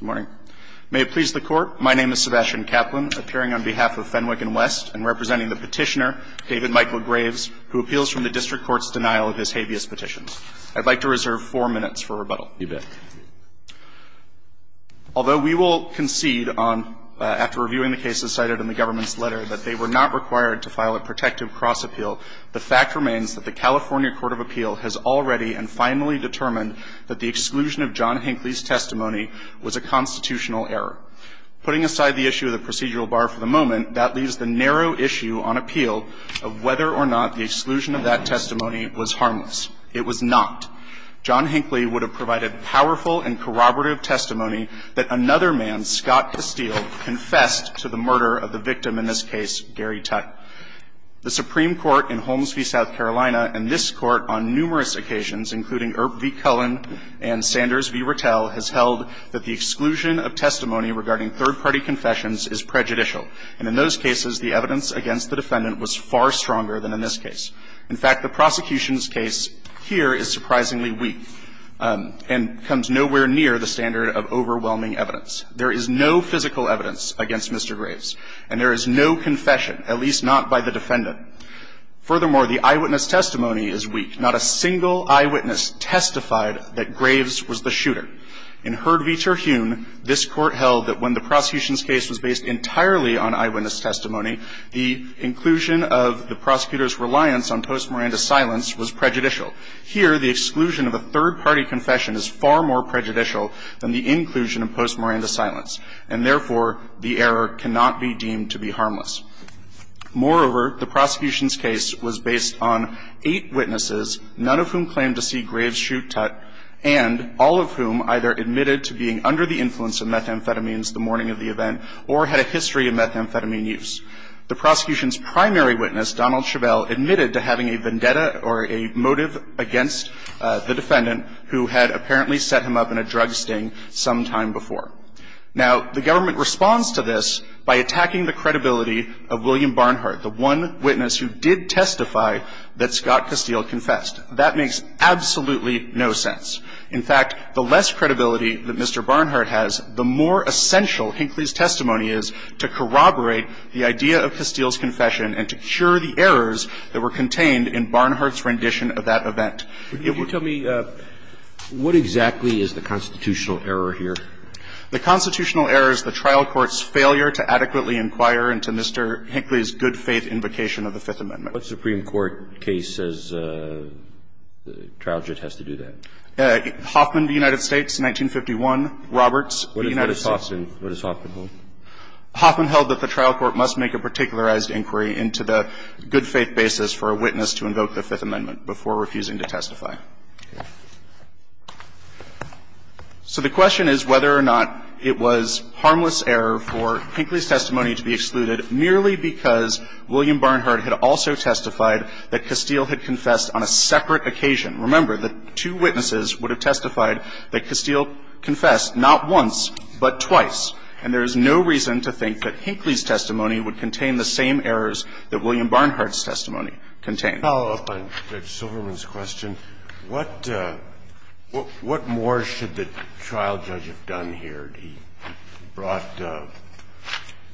Good morning. May it please the Court, my name is Sebastian Kaplan, appearing on behalf of Fenwick and West, and representing the petitioner, David Michael Graves, who appeals from the District Court's denial of his habeas petitions. I'd like to reserve four minutes for rebuttal. You bet. Although we will concede on, after reviewing the cases cited in the government's letter, that they were not required to file a protective cross appeal, the fact remains that the California Court of Appeal has already and finally determined that the exclusion of John Hinckley's testimony was a constitutional error. Putting aside the issue of the procedural bar for the moment, that leaves the narrow issue on appeal of whether or not the exclusion of that testimony was harmless. It was not. John Hinckley would have provided powerful and corroborative testimony that another man, Scott Castile, confessed to the murder of the victim, in this case, Gary Tutt. The Supreme Court in Holmes v. South Carolina and this Court on numerous occasions, including Earp v. Cullen and Sanders v. Rattell, has held that the exclusion of testimony regarding third-party confessions is prejudicial. And in those cases, the evidence against the defendant was far stronger than in this case. In fact, the prosecution's case here is surprisingly weak and comes nowhere near the standard of overwhelming evidence. There is no physical evidence against Mr. Graves, and there is no confession, at least not by the defendant. Furthermore, the eyewitness testimony is weak. Not a single eyewitness testified that Graves was the shooter. In Heard v. Terhune, this Court held that when the prosecution's case was based entirely on eyewitness testimony, the inclusion of the prosecutor's reliance on post-Miranda silence was prejudicial. Here, the exclusion of a third-party confession is far more prejudicial than the inclusion of post-Miranda silence, and therefore, the error cannot be deemed to be harmless. Moreover, the prosecution's case was based on eight witnesses, none of whom claimed to see Graves shoot Tutt, and all of whom either admitted to being under the influence of methamphetamines the morning of the event or had a history of methamphetamine use. The prosecution's primary witness, Donald Chabelle, admitted to having a vendetta or a motive against the defendant who had apparently set him up in a drug sting some time before. Now, the government responds to this by attacking the credibility of William Barnhart, the one witness who did testify that Scott Castile confessed. That makes absolutely no sense. In fact, the less credibility that Mr. Barnhart has, the more essential Hinckley's testimony is to corroborate the idea of Castile's confession and to cure the errors that were contained in Barnhart's rendition of that event. It would be the other way around. Roberts. What exactly is the constitutional error here? The constitutional error is the trial court's failure to adequately inquire into Mr. Hinckley's good-faith invocation of the Fifth Amendment. What Supreme Court case says the trial judge has to do that? Hoffman v. United States, 1951. Roberts v. United States. What does Hoffman hold? Hoffman held that the trial court must make a particularized inquiry into the good-faith basis for a witness to invoke the Fifth Amendment before refusing to testify. So the question is whether or not it was harmless error for Hinckley's testimony to be excluded merely because William Barnhart had also testified that Castile had confessed on a separate occasion. Remember, the two witnesses would have testified that Castile confessed not once, but twice. And there is no reason to think that Hinckley's testimony would contain the same errors that William Barnhart's testimony contained. Follow-up on Judge Silverman's question. What more should the trial judge have done here? He brought the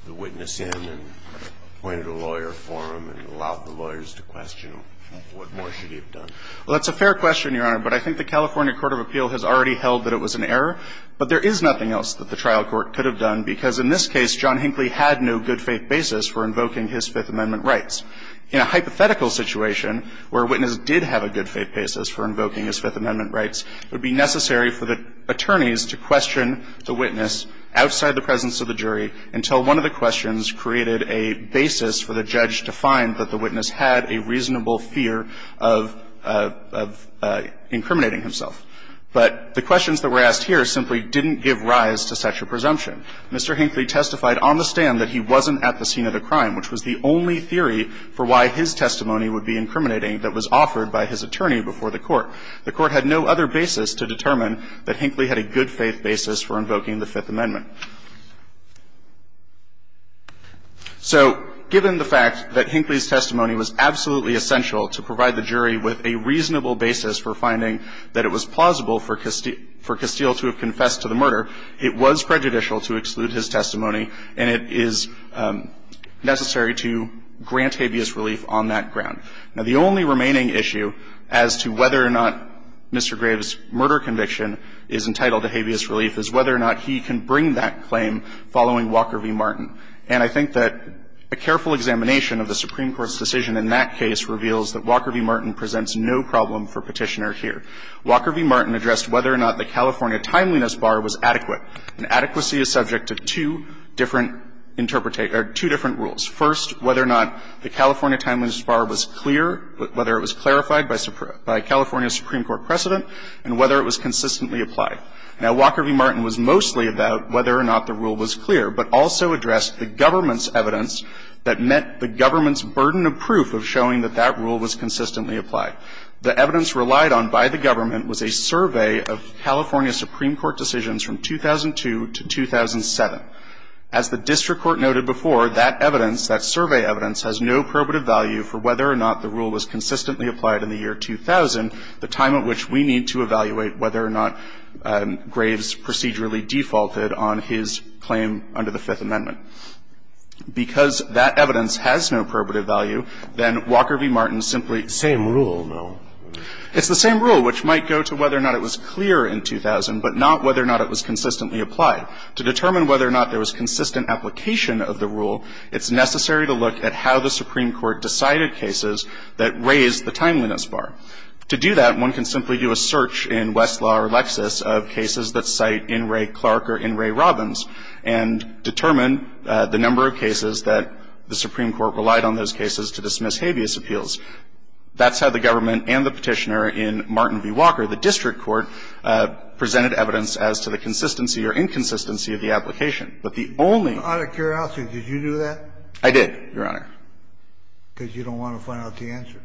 witness in and appointed a lawyer for him and allowed the lawyers to question him. What more should he have done? Well, that's a fair question, Your Honor. But I think the California court of appeal has already held that it was an error. But there is nothing else that the trial court could have done, because in this case, John Hinckley had no good-faith basis for invoking his Fifth Amendment rights. In a hypothetical situation where a witness did have a good-faith basis for invoking his Fifth Amendment rights, it would be necessary for the attorneys to question the witness outside the presence of the jury until one of the questions created a basis for the judge to find that the witness had a reasonable fear of incriminating himself. But the questions that were asked here simply didn't give rise to such a presumption. Mr. Hinckley testified on the stand that he wasn't at the scene of the crime, which was the only theory for why his testimony would be incriminating that was offered by his attorney before the court. The court had no other basis to determine that Hinckley had a good-faith basis for invoking the Fifth Amendment. So given the fact that Hinckley's testimony was absolutely essential to provide the jury with a reasonable basis for finding that it was plausible for Castile to have confessed to the murder, it was prejudicial to exclude his testimony, and it is necessary to grant habeas relief on that ground. Now, the only remaining issue as to whether or not Mr. Graves' murder conviction is entitled to habeas relief is whether or not he can bring that claim following Walker v. Martin. And I think that a careful examination of the Supreme Court's decision in that case reveals that Walker v. Martin presents no problem for Petitioner here. Walker v. Martin addressed whether or not the California Timeliness Bar was adequate. And adequacy is subject to two different interpretation or two different rules. First, whether or not the California Timeliness Bar was clear, whether it was clarified by California Supreme Court precedent, and whether it was consistently applied. Now, Walker v. Martin was mostly about whether or not the rule was clear, but also addressed the government's evidence that met the government's burden of proof of showing that that rule was consistently applied. The evidence relied on by the government was a survey of California Supreme Court decisions from 2002 to 2007. As the district court noted before, that evidence, that survey evidence, has no probative value for whether or not the rule was consistently applied in the year 2000, the time at which we need to evaluate whether or not Graves procedurally defaulted on his claim under the Fifth Amendment. Because that evidence has no probative value, then Walker v. Martin simply --- Same rule, though. It's the same rule, which might go to whether or not it was clear in 2000, but not whether or not it was consistently applied. To determine whether or not there was consistent application of the rule, it's necessary to look at how the Supreme Court decided cases that raised the Timeliness Bar. To do that, one can simply do a search in Westlaw or Lexis of cases that cite In re Clark or In re Robbins, and determine the number of cases that the Supreme Court relied on those cases to dismiss habeas appeals. That's how the government and the petitioner in Martin v. Walker, the district court, presented evidence as to the consistency or inconsistency of the application. But the only- Kennedy, did you do that? I did, Your Honor. Because you don't want to find out the answer.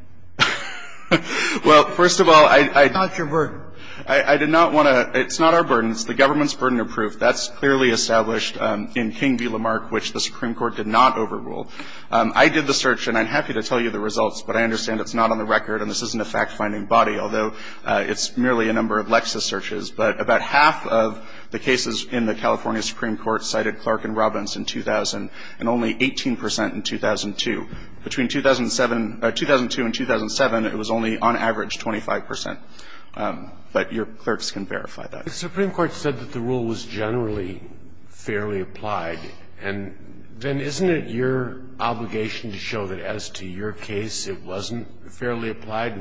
Well, first of all, I- It's not your burden. I did not want to. It's not our burden. It's the government's burden of proof. That's clearly established in King v. Lamarck, which the Supreme Court did not overrule. I did the search, and I'm happy to tell you the results, but I understand it's not on the record, and this isn't a fact-finding body, although it's merely a number of Lexis searches, but about half of the cases in the California Supreme Court cited Clark and Robbins in 2000, and only 18 percent in 2002. Between 2007 or 2002 and 2007, it was only, on average, 25 percent. But your clerks can verify that. If the Supreme Court said that the rule was generally fairly applied, then isn't it your obligation to show that as to your case, it wasn't fairly applied?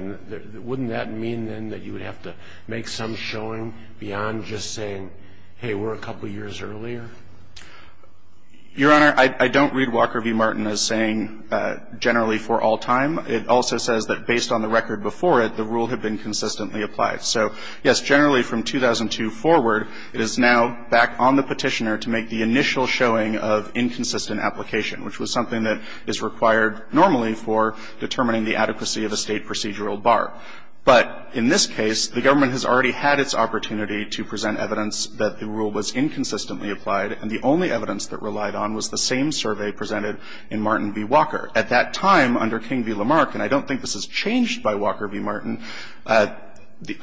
Wouldn't that mean, then, that you would have to make some showing beyond just saying, hey, we're a couple years earlier? Your Honor, I don't read Walker v. Martin as saying generally for all time. It also says that based on the record before it, the rule had been consistently applied. So, yes, generally from 2002 forward, it is now back on the Petitioner to make the determination, which was something that is required normally for determining the adequacy of a State procedural bar. But in this case, the government has already had its opportunity to present evidence that the rule was inconsistently applied, and the only evidence that relied on was the same survey presented in Martin v. Walker. At that time, under King v. Lamarck, and I don't think this is changed by Walker v. Martin, the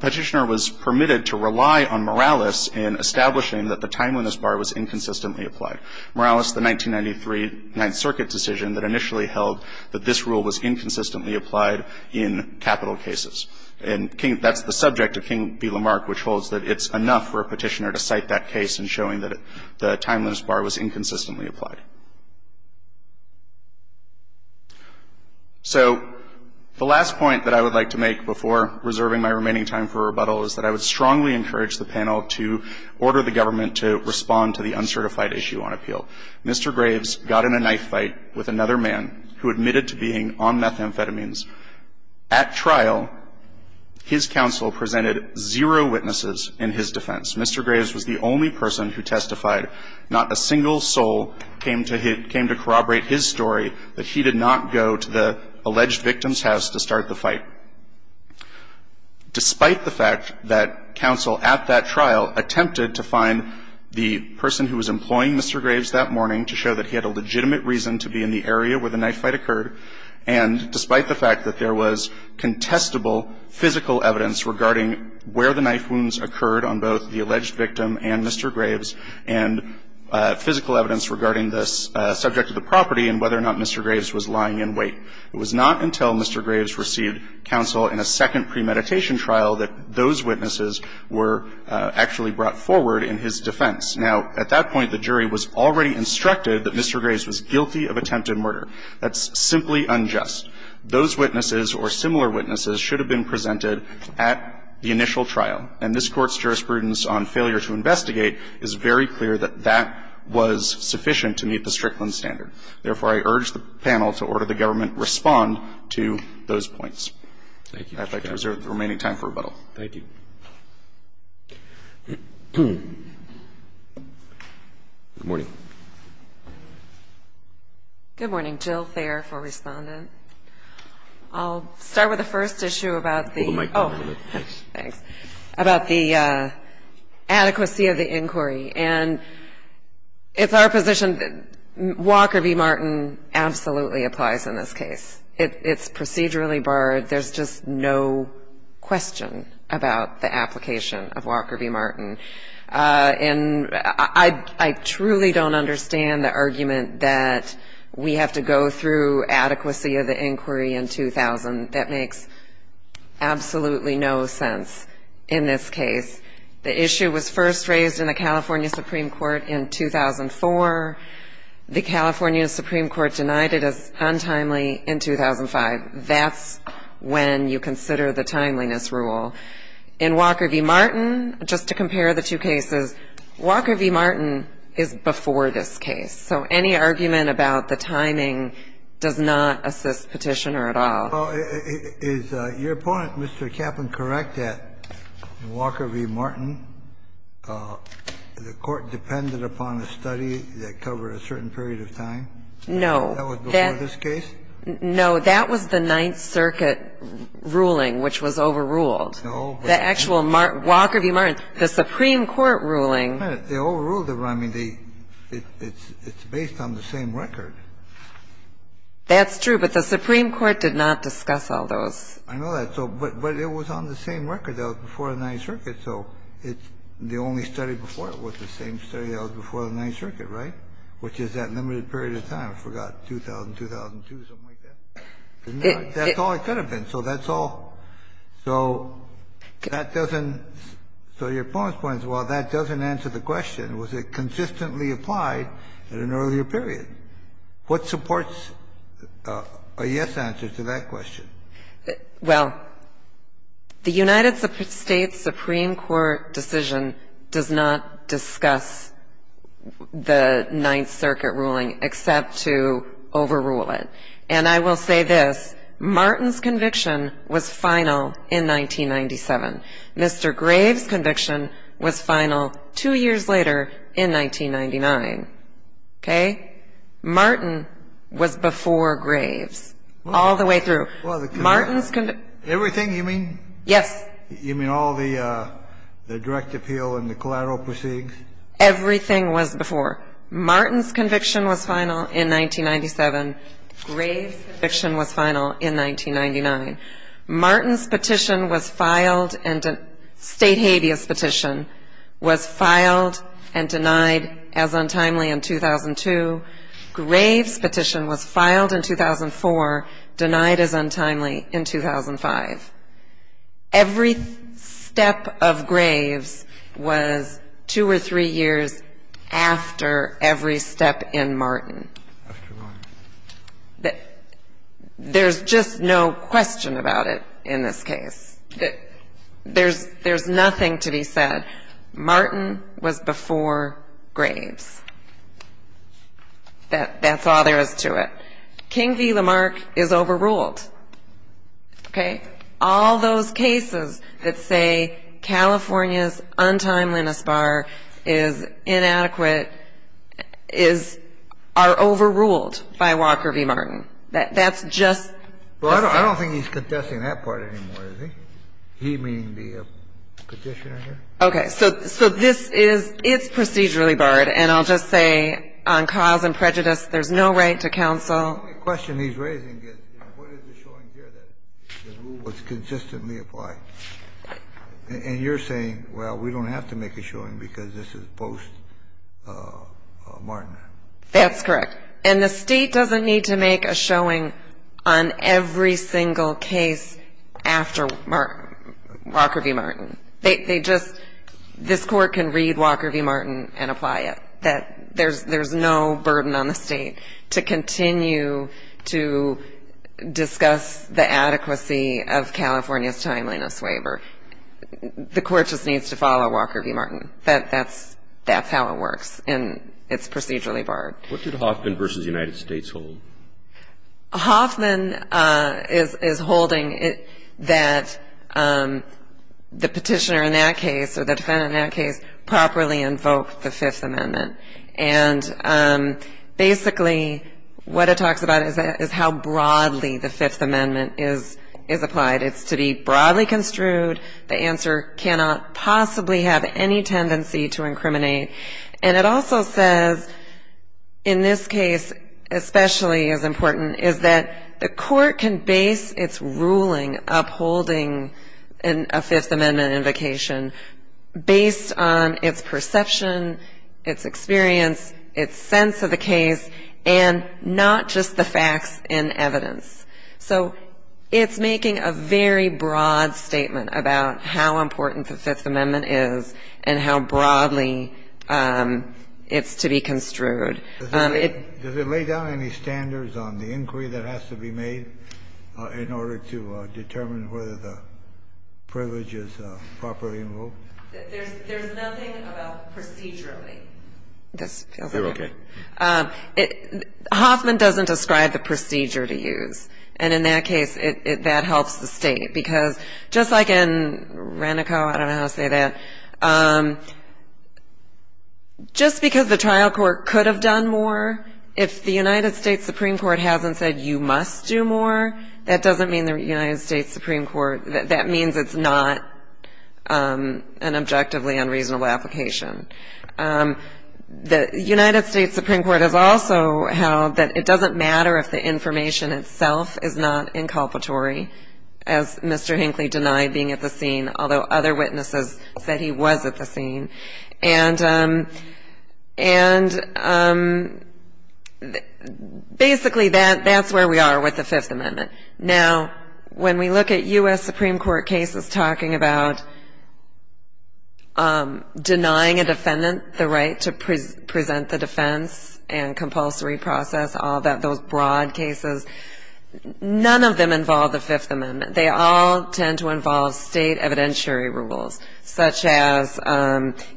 Petitioner was permitted to rely on Morales in establishing that the time when this bar was inconsistently applied. Morales, the 1993 Ninth Circuit decision that initially held that this rule was inconsistently applied in capital cases. And that's the subject of King v. Lamarck, which holds that it's enough for a Petitioner to cite that case in showing that the timeliness bar was inconsistently applied. So the last point that I would like to make before reserving my remaining time for rebuttal is that I would strongly encourage the panel to order the government to respond to the uncertified issue on appeal. Mr. Graves got in a knife fight with another man who admitted to being on methamphetamines. At trial, his counsel presented zero witnesses in his defense. Mr. Graves was the only person who testified. Not a single soul came to corroborate his story that he did not go to the alleged victim's house to start the fight. Despite the fact that counsel at that trial attempted to find the person who was employing Mr. Graves that morning to show that he had a legitimate reason to be in the area where the knife fight occurred, and despite the fact that there was contestable physical evidence regarding where the knife wounds occurred on both the alleged victim and Mr. Graves, and physical evidence regarding the subject of the property and whether or not Mr. Graves was lying in wait, it was not until Mr. Graves received counsel in a second premeditation trial that those witnesses were actually brought forward in his defense. Now, at that point, the jury was already instructed that Mr. Graves was guilty of attempted murder. That's simply unjust. Those witnesses or similar witnesses should have been presented at the initial trial, and this Court's jurisprudence on failure to investigate is very clear that that was sufficient to meet the Strickland standard. Therefore, I urge the panel to order the government respond to those points. Thank you, Mr. Chairman. I'd like to reserve the remaining time for rebuttal. Thank you. Good morning. Good morning. Jill Thayer for Respondent. I'll start with the first issue about the ---- Hold the mic down a little bit. Thanks. About the adequacy of the inquiry. And it's our position that Walker v. Martin absolutely applies in this case. It's procedurally barred. There's just no question about the application of Walker v. Martin. And I truly don't understand the argument that we have to go through adequacy of the inquiry in 2000. That makes absolutely no sense in this case. The issue was first raised in the California Supreme Court in 2004. The California Supreme Court denied it as untimely in 2005. That's when you consider the timeliness rule. In Walker v. Martin, just to compare the two cases, Walker v. Martin is before this case. So any argument about the timing does not assist Petitioner at all. Well, is your opponent, Mr. Kaplan, correct that in Walker v. Martin, the court depended upon a study that covered a certain period of time? No. That was before this case? No. That was the Ninth Circuit ruling, which was overruled. No. The actual Walker v. Martin, the Supreme Court ruling. They overruled it. I mean, it's based on the same record. That's true. But the Supreme Court did not discuss all those. I know that. But it was on the same record. That was before the Ninth Circuit. So the only study before it was the same study that was before the Ninth Circuit, right, which is that limited period of time. I forgot, 2000, 2002, something like that. That's all it could have been. So that's all. So that doesn't so your opponent's point is, well, that doesn't answer the question. Was it consistently applied at an earlier period? What supports a yes answer to that question? Well, the United States Supreme Court decision does not discuss the Ninth Circuit ruling except to overrule it. And I will say this. Martin's conviction was final in 1997. Mr. Graves' conviction was final two years later in 1999. Okay? Martin was before Graves all the way through. Martin's conviction. Everything you mean? Yes. You mean all the direct appeal and the collateral proceedings? Everything was before. Martin's conviction was final in 1997. Graves' conviction was final in 1999. Martin's petition was filed and State habeas petition was filed and denied as untimely in 2002. Graves' petition was filed in 2004, denied as untimely in 2005. Every step of Graves' was two or three years after every step in Martin. After Martin. There's just no question about it in this case. There's nothing to be said. Martin was before Graves. That's all there is to it. King v. Lamarck is overruled. Okay? All those cases that say California's untimeliness bar is inadequate are overruled by Walker v. Martin. That's just. Well, I don't think he's contesting that part anymore, does he? He meaning the petitioner here? Okay. So this is, it's procedurally barred, and I'll just say on cause and prejudice, there's no right to counsel. The only question he's raising is what is the showing here that the rule was consistently applied? And you're saying, well, we don't have to make a showing because this is post-Martin. That's correct. And the State doesn't need to make a showing on every single case after Walker v. Martin. They just, this Court can read Walker v. Martin and apply it. That there's no burden on the State to continue to discuss the adequacy of California's timeliness waiver. The Court just needs to follow Walker v. Martin. That's how it works, and it's procedurally barred. What did Hoffman v. United States hold? Hoffman is holding that the petitioner in that case, or the defendant in that case, properly invoked the Fifth Amendment. And basically what it talks about is how broadly the Fifth Amendment is applied. It's to be broadly construed. The answer cannot possibly have any tendency to incriminate. And it also says, in this case especially as important, is that the Court can base its ruling upholding a Fifth Amendment invocation based on its perception, its experience, its sense of the case, and not just the facts and evidence. So it's making a very broad statement about how important the Fifth Amendment is and how broadly it's to be construed. Does it lay down any standards on the inquiry that has to be made in order to determine whether the privilege is properly invoked? There's nothing about procedurally. Does it feel that way? They're okay. Hoffman doesn't describe the procedure to use. And in that case, that helps the State. Because just like in Renico, I don't know how to say that, just because the trial court could have done more, if the United States Supreme Court hasn't said you must do more, that doesn't mean the United States Supreme Court, that means it's not an objectively unreasonable application. The United States Supreme Court has also held that it doesn't matter if the information itself is not inculpatory, as Mr. Hinckley denied being at the scene, although other witnesses said he was at the scene. And basically that's where we are with the Fifth Amendment. Now, when we look at U.S. Supreme Court cases talking about denying a defendant the right to present the defense and compulsory process, all those broad cases, none of them involve the Fifth Amendment. They all tend to involve State evidentiary rules, such as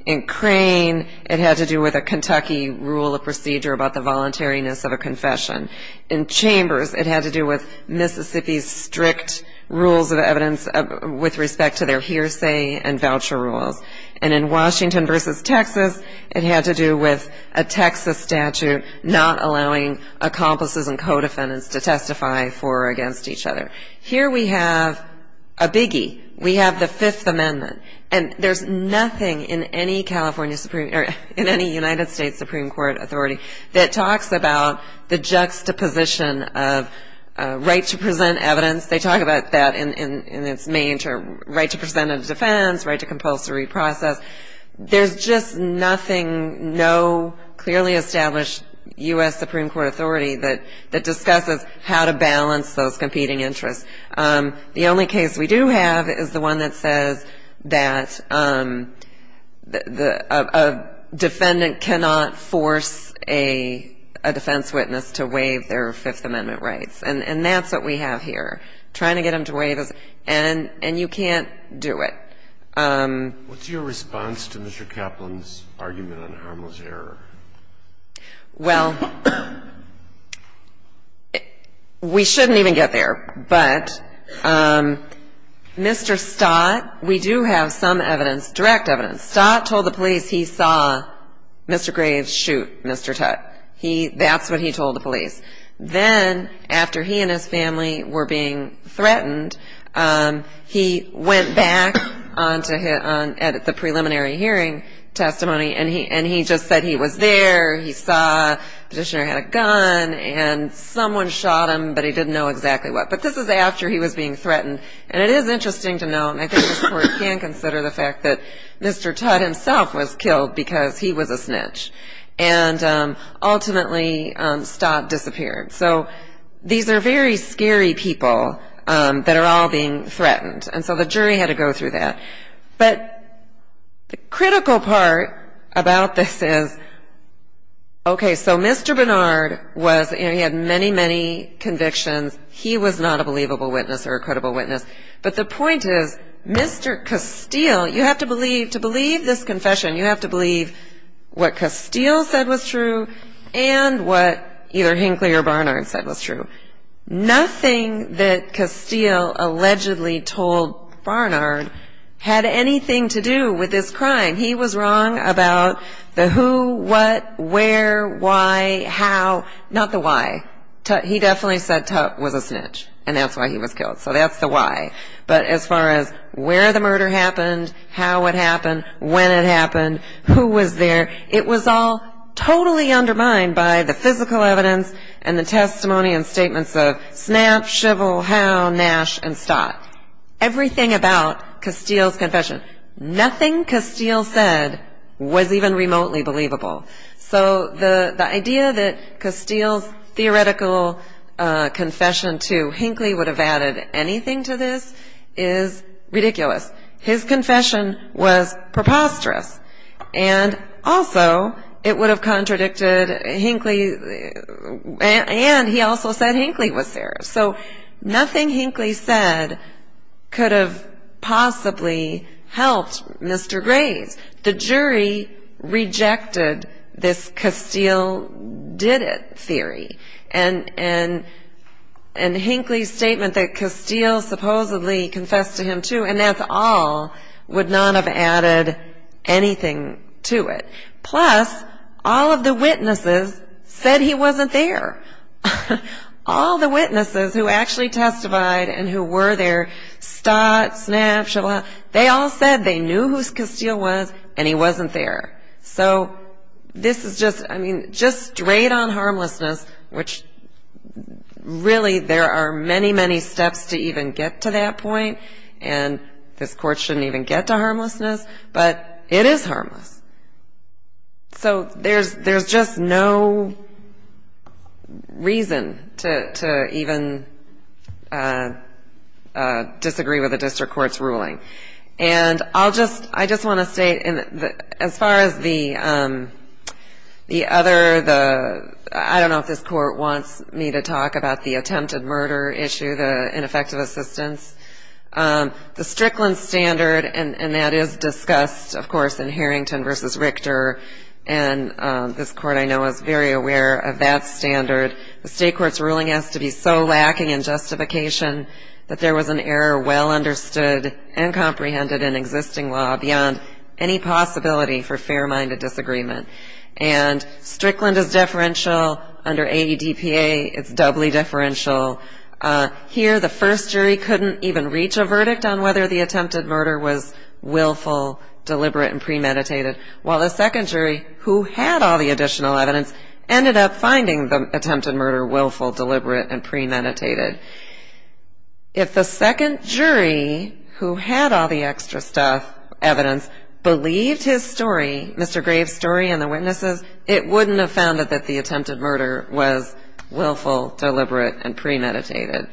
in Crane, it had to do with a Kentucky rule of procedure about the voluntariness of a confession. In Chambers, it had to do with Mississippi's strict rules of evidence with respect to their hearsay and voucher rules. And in Washington v. Texas, it had to do with a Texas statute not allowing accomplices and co-defendants to testify for or against each other. Here we have a biggie. We have the Fifth Amendment. And there's nothing in any United States Supreme Court authority that talks about the juxtaposition of right to present evidence. They talk about that in its main term, right to present a defense, right to compulsory process. There's just nothing, no clearly established U.S. Supreme Court authority that discusses how to balance those competing interests. The only case we do have is the one that says that a defendant cannot force a defense witness to waive their Fifth Amendment rights. And that's what we have here, trying to get them to waive it. And you can't do it. What's your response to Mr. Kaplan's argument on harmless error? Well, we shouldn't even get there. But Mr. Stott, we do have some evidence, direct evidence. Stott told the police he saw Mr. Graves shoot Mr. Tutt. That's what he told the police. Then, after he and his family were being threatened, he went back at the preliminary hearing testimony, and he just said he was there, he saw the petitioner had a gun, and someone shot him, but he didn't know exactly what. But this is after he was being threatened. And it is interesting to note, and I think the court can consider the fact that Mr. Tutt himself was killed because he was a snitch. And ultimately, Stott disappeared. So these are very scary people that are all being threatened. And so the jury had to go through that. But the critical part about this is, okay, so Mr. Barnard was, you know, he had many, many convictions. He was not a believable witness or a credible witness. But the point is, Mr. Castile, you have to believe, to believe this confession, you have to believe what Castile said was true and what either Hinkley or Barnard said was true. Nothing that Castile allegedly told Barnard had anything to do with this crime. He was wrong about the who, what, where, why, how, not the why. He definitely said Tutt was a snitch, and that's why he was killed. So that's the why. But as far as where the murder happened, how it happened, when it happened, who was there, it was all totally undermined by the physical evidence and the testimony and statements of Snap, Shivel, Howe, Nash, and Stott. Everything about Castile's confession, nothing Castile said was even remotely believable. So the idea that Castile's theoretical confession to Hinkley would have added anything to this is ridiculous. His confession was preposterous. And also it would have contradicted Hinkley, and he also said Hinkley was there. So nothing Hinkley said could have possibly helped Mr. Graves. The jury rejected this Castile did it theory. And Hinkley's statement that Castile supposedly confessed to him too, and that's all, would not have added anything to it. Plus, all of the witnesses said he wasn't there. All the witnesses who actually testified and who were there, Stott, Snap, Shivel, Howe, they all said they knew who Castile was and he wasn't there. So this is just, I mean, just straight-on harmlessness, which really there are many, many steps to even get to that point, and this court shouldn't even get to harmlessness, but it is harmless. So there's just no reason to even disagree with a district court's ruling. And I'll just, I just want to say, as far as the other, I don't know if this court wants me to talk about the attempted murder issue, the ineffective assistance, the Strickland standard, and that is discussed, of course, in Harrington v. Richter, and this court I know is very aware of that standard. The state court's ruling has to be so lacking in justification that there was an error well understood and comprehended in existing law beyond any possibility for fair-minded disagreement. And Strickland is deferential. Under AEDPA, it's doubly deferential. Here, the first jury couldn't even reach a verdict on whether the attempted murder was willful, deliberate, and premeditated, while the second jury, who had all the additional evidence, ended up finding the attempted murder willful, deliberate, and premeditated. If the second jury, who had all the extra stuff, evidence, believed his story, Mr. Graves' story and the witnesses', it wouldn't have found that the attempted murder was willful, deliberate, and premeditated.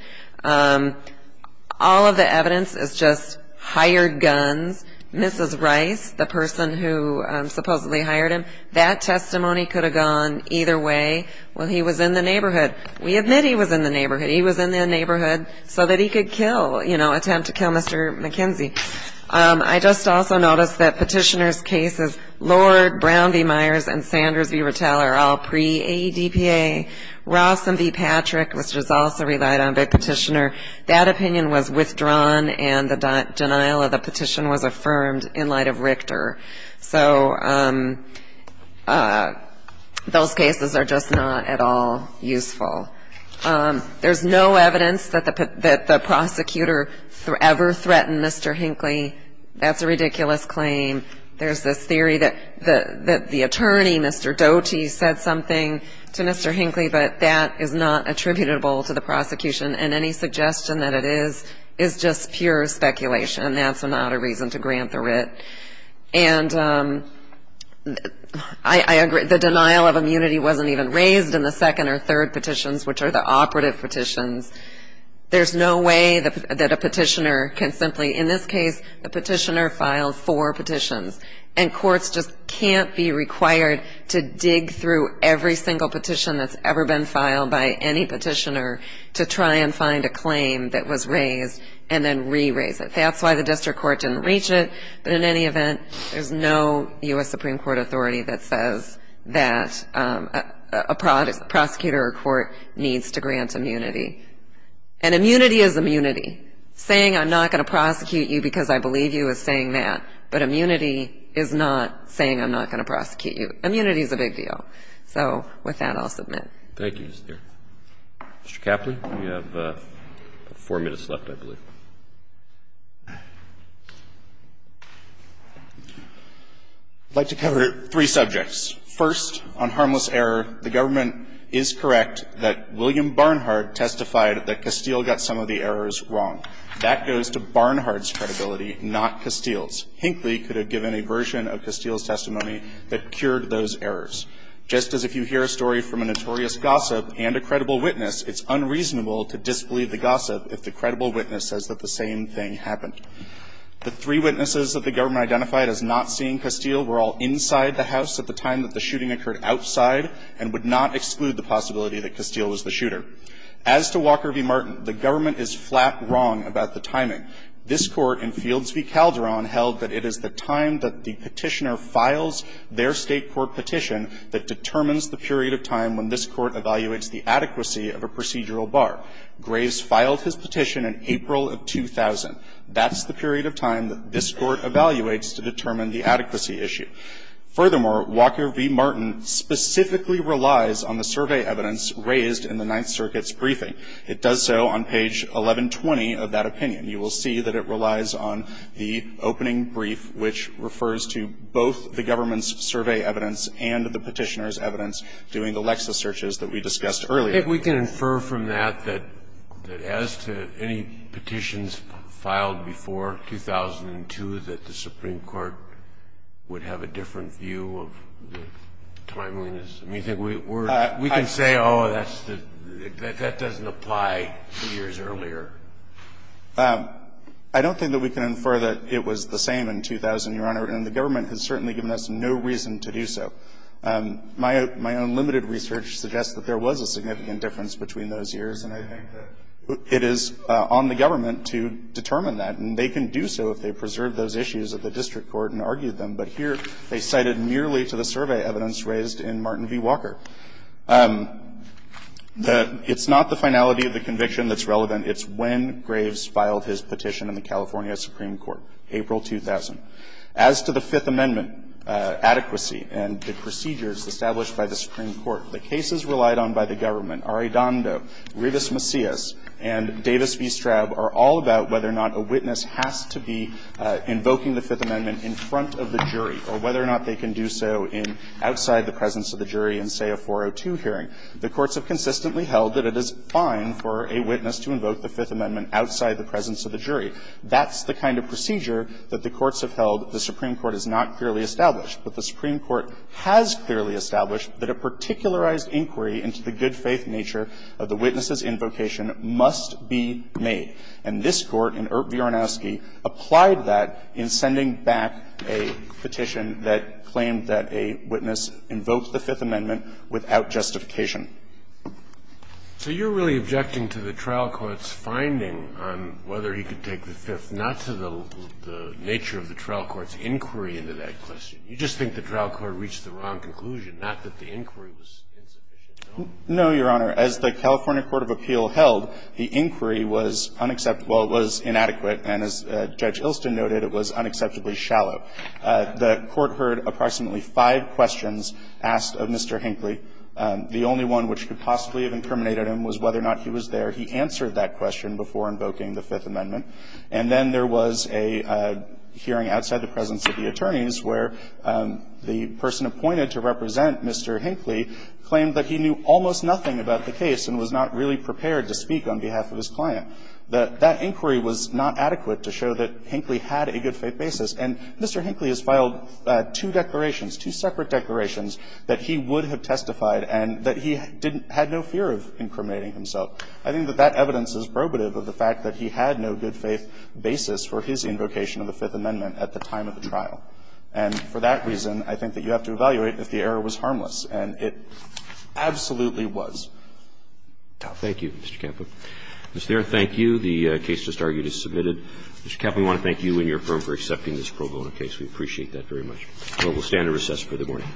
All of the evidence is just hired guns. Mrs. Rice, the person who supposedly hired him, that testimony could have gone either way. Well, he was in the neighborhood. We admit he was in the neighborhood. He was in the neighborhood so that he could kill, you know, attempt to kill Mr. McKenzie. I just also noticed that Petitioner's cases, Lord, Brown v. Myers, and Sanders v. Rattell are all pre-AEDPA. Ross v. Patrick, which was also relied on by Petitioner, that opinion was withdrawn and the denial of the petition was affirmed in light of Richter. So those cases are just not at all useful. There's no evidence that the prosecutor ever threatened Mr. Hinckley. That's a ridiculous claim. There's this theory that the attorney, Mr. Doty, said something to Mr. Hinckley, but that is not attributable to the prosecution, and any suggestion that it is is just pure speculation. That's not a reason to grant the writ. And I agree, the denial of immunity wasn't even raised in the second or third petitions, which are the operative petitions. There's no way that a Petitioner can simply, in this case, the Petitioner filed four petitions, and courts just can't be required to dig through every single petition that's ever been filed by any Petitioner to try and find a claim that was raised and then re-raise it. That's why the district court didn't reach it. But in any event, there's no U.S. Supreme Court authority that says that a prosecutor or court needs to grant immunity. And immunity is immunity. Saying I'm not going to prosecute you because I believe you is saying that, but immunity is not saying I'm not going to prosecute you. Immunity is a big deal. So with that, I'll submit. Thank you, Ms. Thier. Mr. Caplan, you have four minutes left, I believe. I'd like to cover three subjects. First, on harmless error, the government is correct that William Barnhart testified that Castile got some of the errors wrong. That goes to Barnhart's credibility, not Castile's. Hinckley could have given a version of Castile's testimony that cured those errors. Just as if you hear a story from a notorious gossip and a credible witness, it's unreasonable to disbelieve the gossip if the credible witness says that the same thing happened. The three witnesses that the government identified as not seeing Castile were all inside the house at the time that the shooting occurred outside and would not exclude the possibility that Castile was the shooter. As to Walker v. Martin, the government is flat wrong about the timing. This Court in Fields v. Calderon held that it is the time that the petitioner determines the period of time when this Court evaluates the adequacy of a procedural bar. Graves filed his petition in April of 2000. That's the period of time that this Court evaluates to determine the adequacy issue. Furthermore, Walker v. Martin specifically relies on the survey evidence raised in the Ninth Circuit's briefing. It does so on page 1120 of that opinion. You will see that it relies on the opening brief, which refers to both the government's survey evidence and the petitioner's evidence during the Lexis searches that we discussed earlier. I think we can infer from that that as to any petitions filed before 2002 that the Supreme Court would have a different view of the timeliness. We can say, oh, that doesn't apply two years earlier. I don't think that we can infer that it was the same in 2000, Your Honor. And the government has certainly given us no reason to do so. My own limited research suggests that there was a significant difference between those years. And I think that it is on the government to determine that. And they can do so if they preserve those issues at the district court and argue them. But here they cited merely to the survey evidence raised in Martin v. Walker. It's not the finality of the conviction that's relevant. It's when Graves filed his petition in the California Supreme Court, April 2000. As to the Fifth Amendment adequacy and the procedures established by the Supreme Court, the cases relied on by the government, Arredondo, Rivas Macias, and Davis v. Straub, are all about whether or not a witness has to be invoking the Fifth Amendment in front of the jury or whether or not they can do so in outside the presence of the jury in, say, a 402 hearing. The courts have consistently held that it is fine for a witness to invoke the Fifth Amendment outside the presence of the jury. That's the kind of procedure that the courts have held the Supreme Court has not clearly established. But the Supreme Court has clearly established that a particularized inquiry into the good-faith nature of the witness's invocation must be made. And this Court, in Ert V. Ornowski, applied that in sending back a petition that claimed that a witness invoked the Fifth Amendment without justification. So you're really objecting to the trial court's finding on whether he could take the Fifth, not to the nature of the trial court's inquiry into that question. You just think the trial court reached the wrong conclusion, not that the inquiry was insufficient. No, Your Honor. As the California court of appeal held, the inquiry was unacceptable, it was inadequate, and as Judge Ilston noted, it was unacceptably shallow. The court heard approximately five questions asked of Mr. Hinckley. The only one which could possibly have incriminated him was whether or not he was there. He answered that question before invoking the Fifth Amendment. And then there was a hearing outside the presence of the attorneys where the person appointed to represent Mr. Hinckley claimed that he knew almost nothing about the case and was not really prepared to speak on behalf of his client. That inquiry was not adequate to show that Hinckley had a good-faith basis. And Mr. Hinckley has filed two declarations, two separate declarations, that he would have testified and that he had no fear of incriminating himself. I think that that evidence is probative of the fact that he had no good-faith basis for his invocation of the Fifth Amendment at the time of the trial. And for that reason, I think that you have to evaluate if the error was harmless. And it absolutely was. Roberts. Thank you, Mr. Campa. Mr. Thera, thank you. The case just argued is submitted. Mr. Campa, we want to thank you and your firm for accepting this pro bono case. We appreciate that very much. We will stand and recess for the morning. Thank you. Thank you.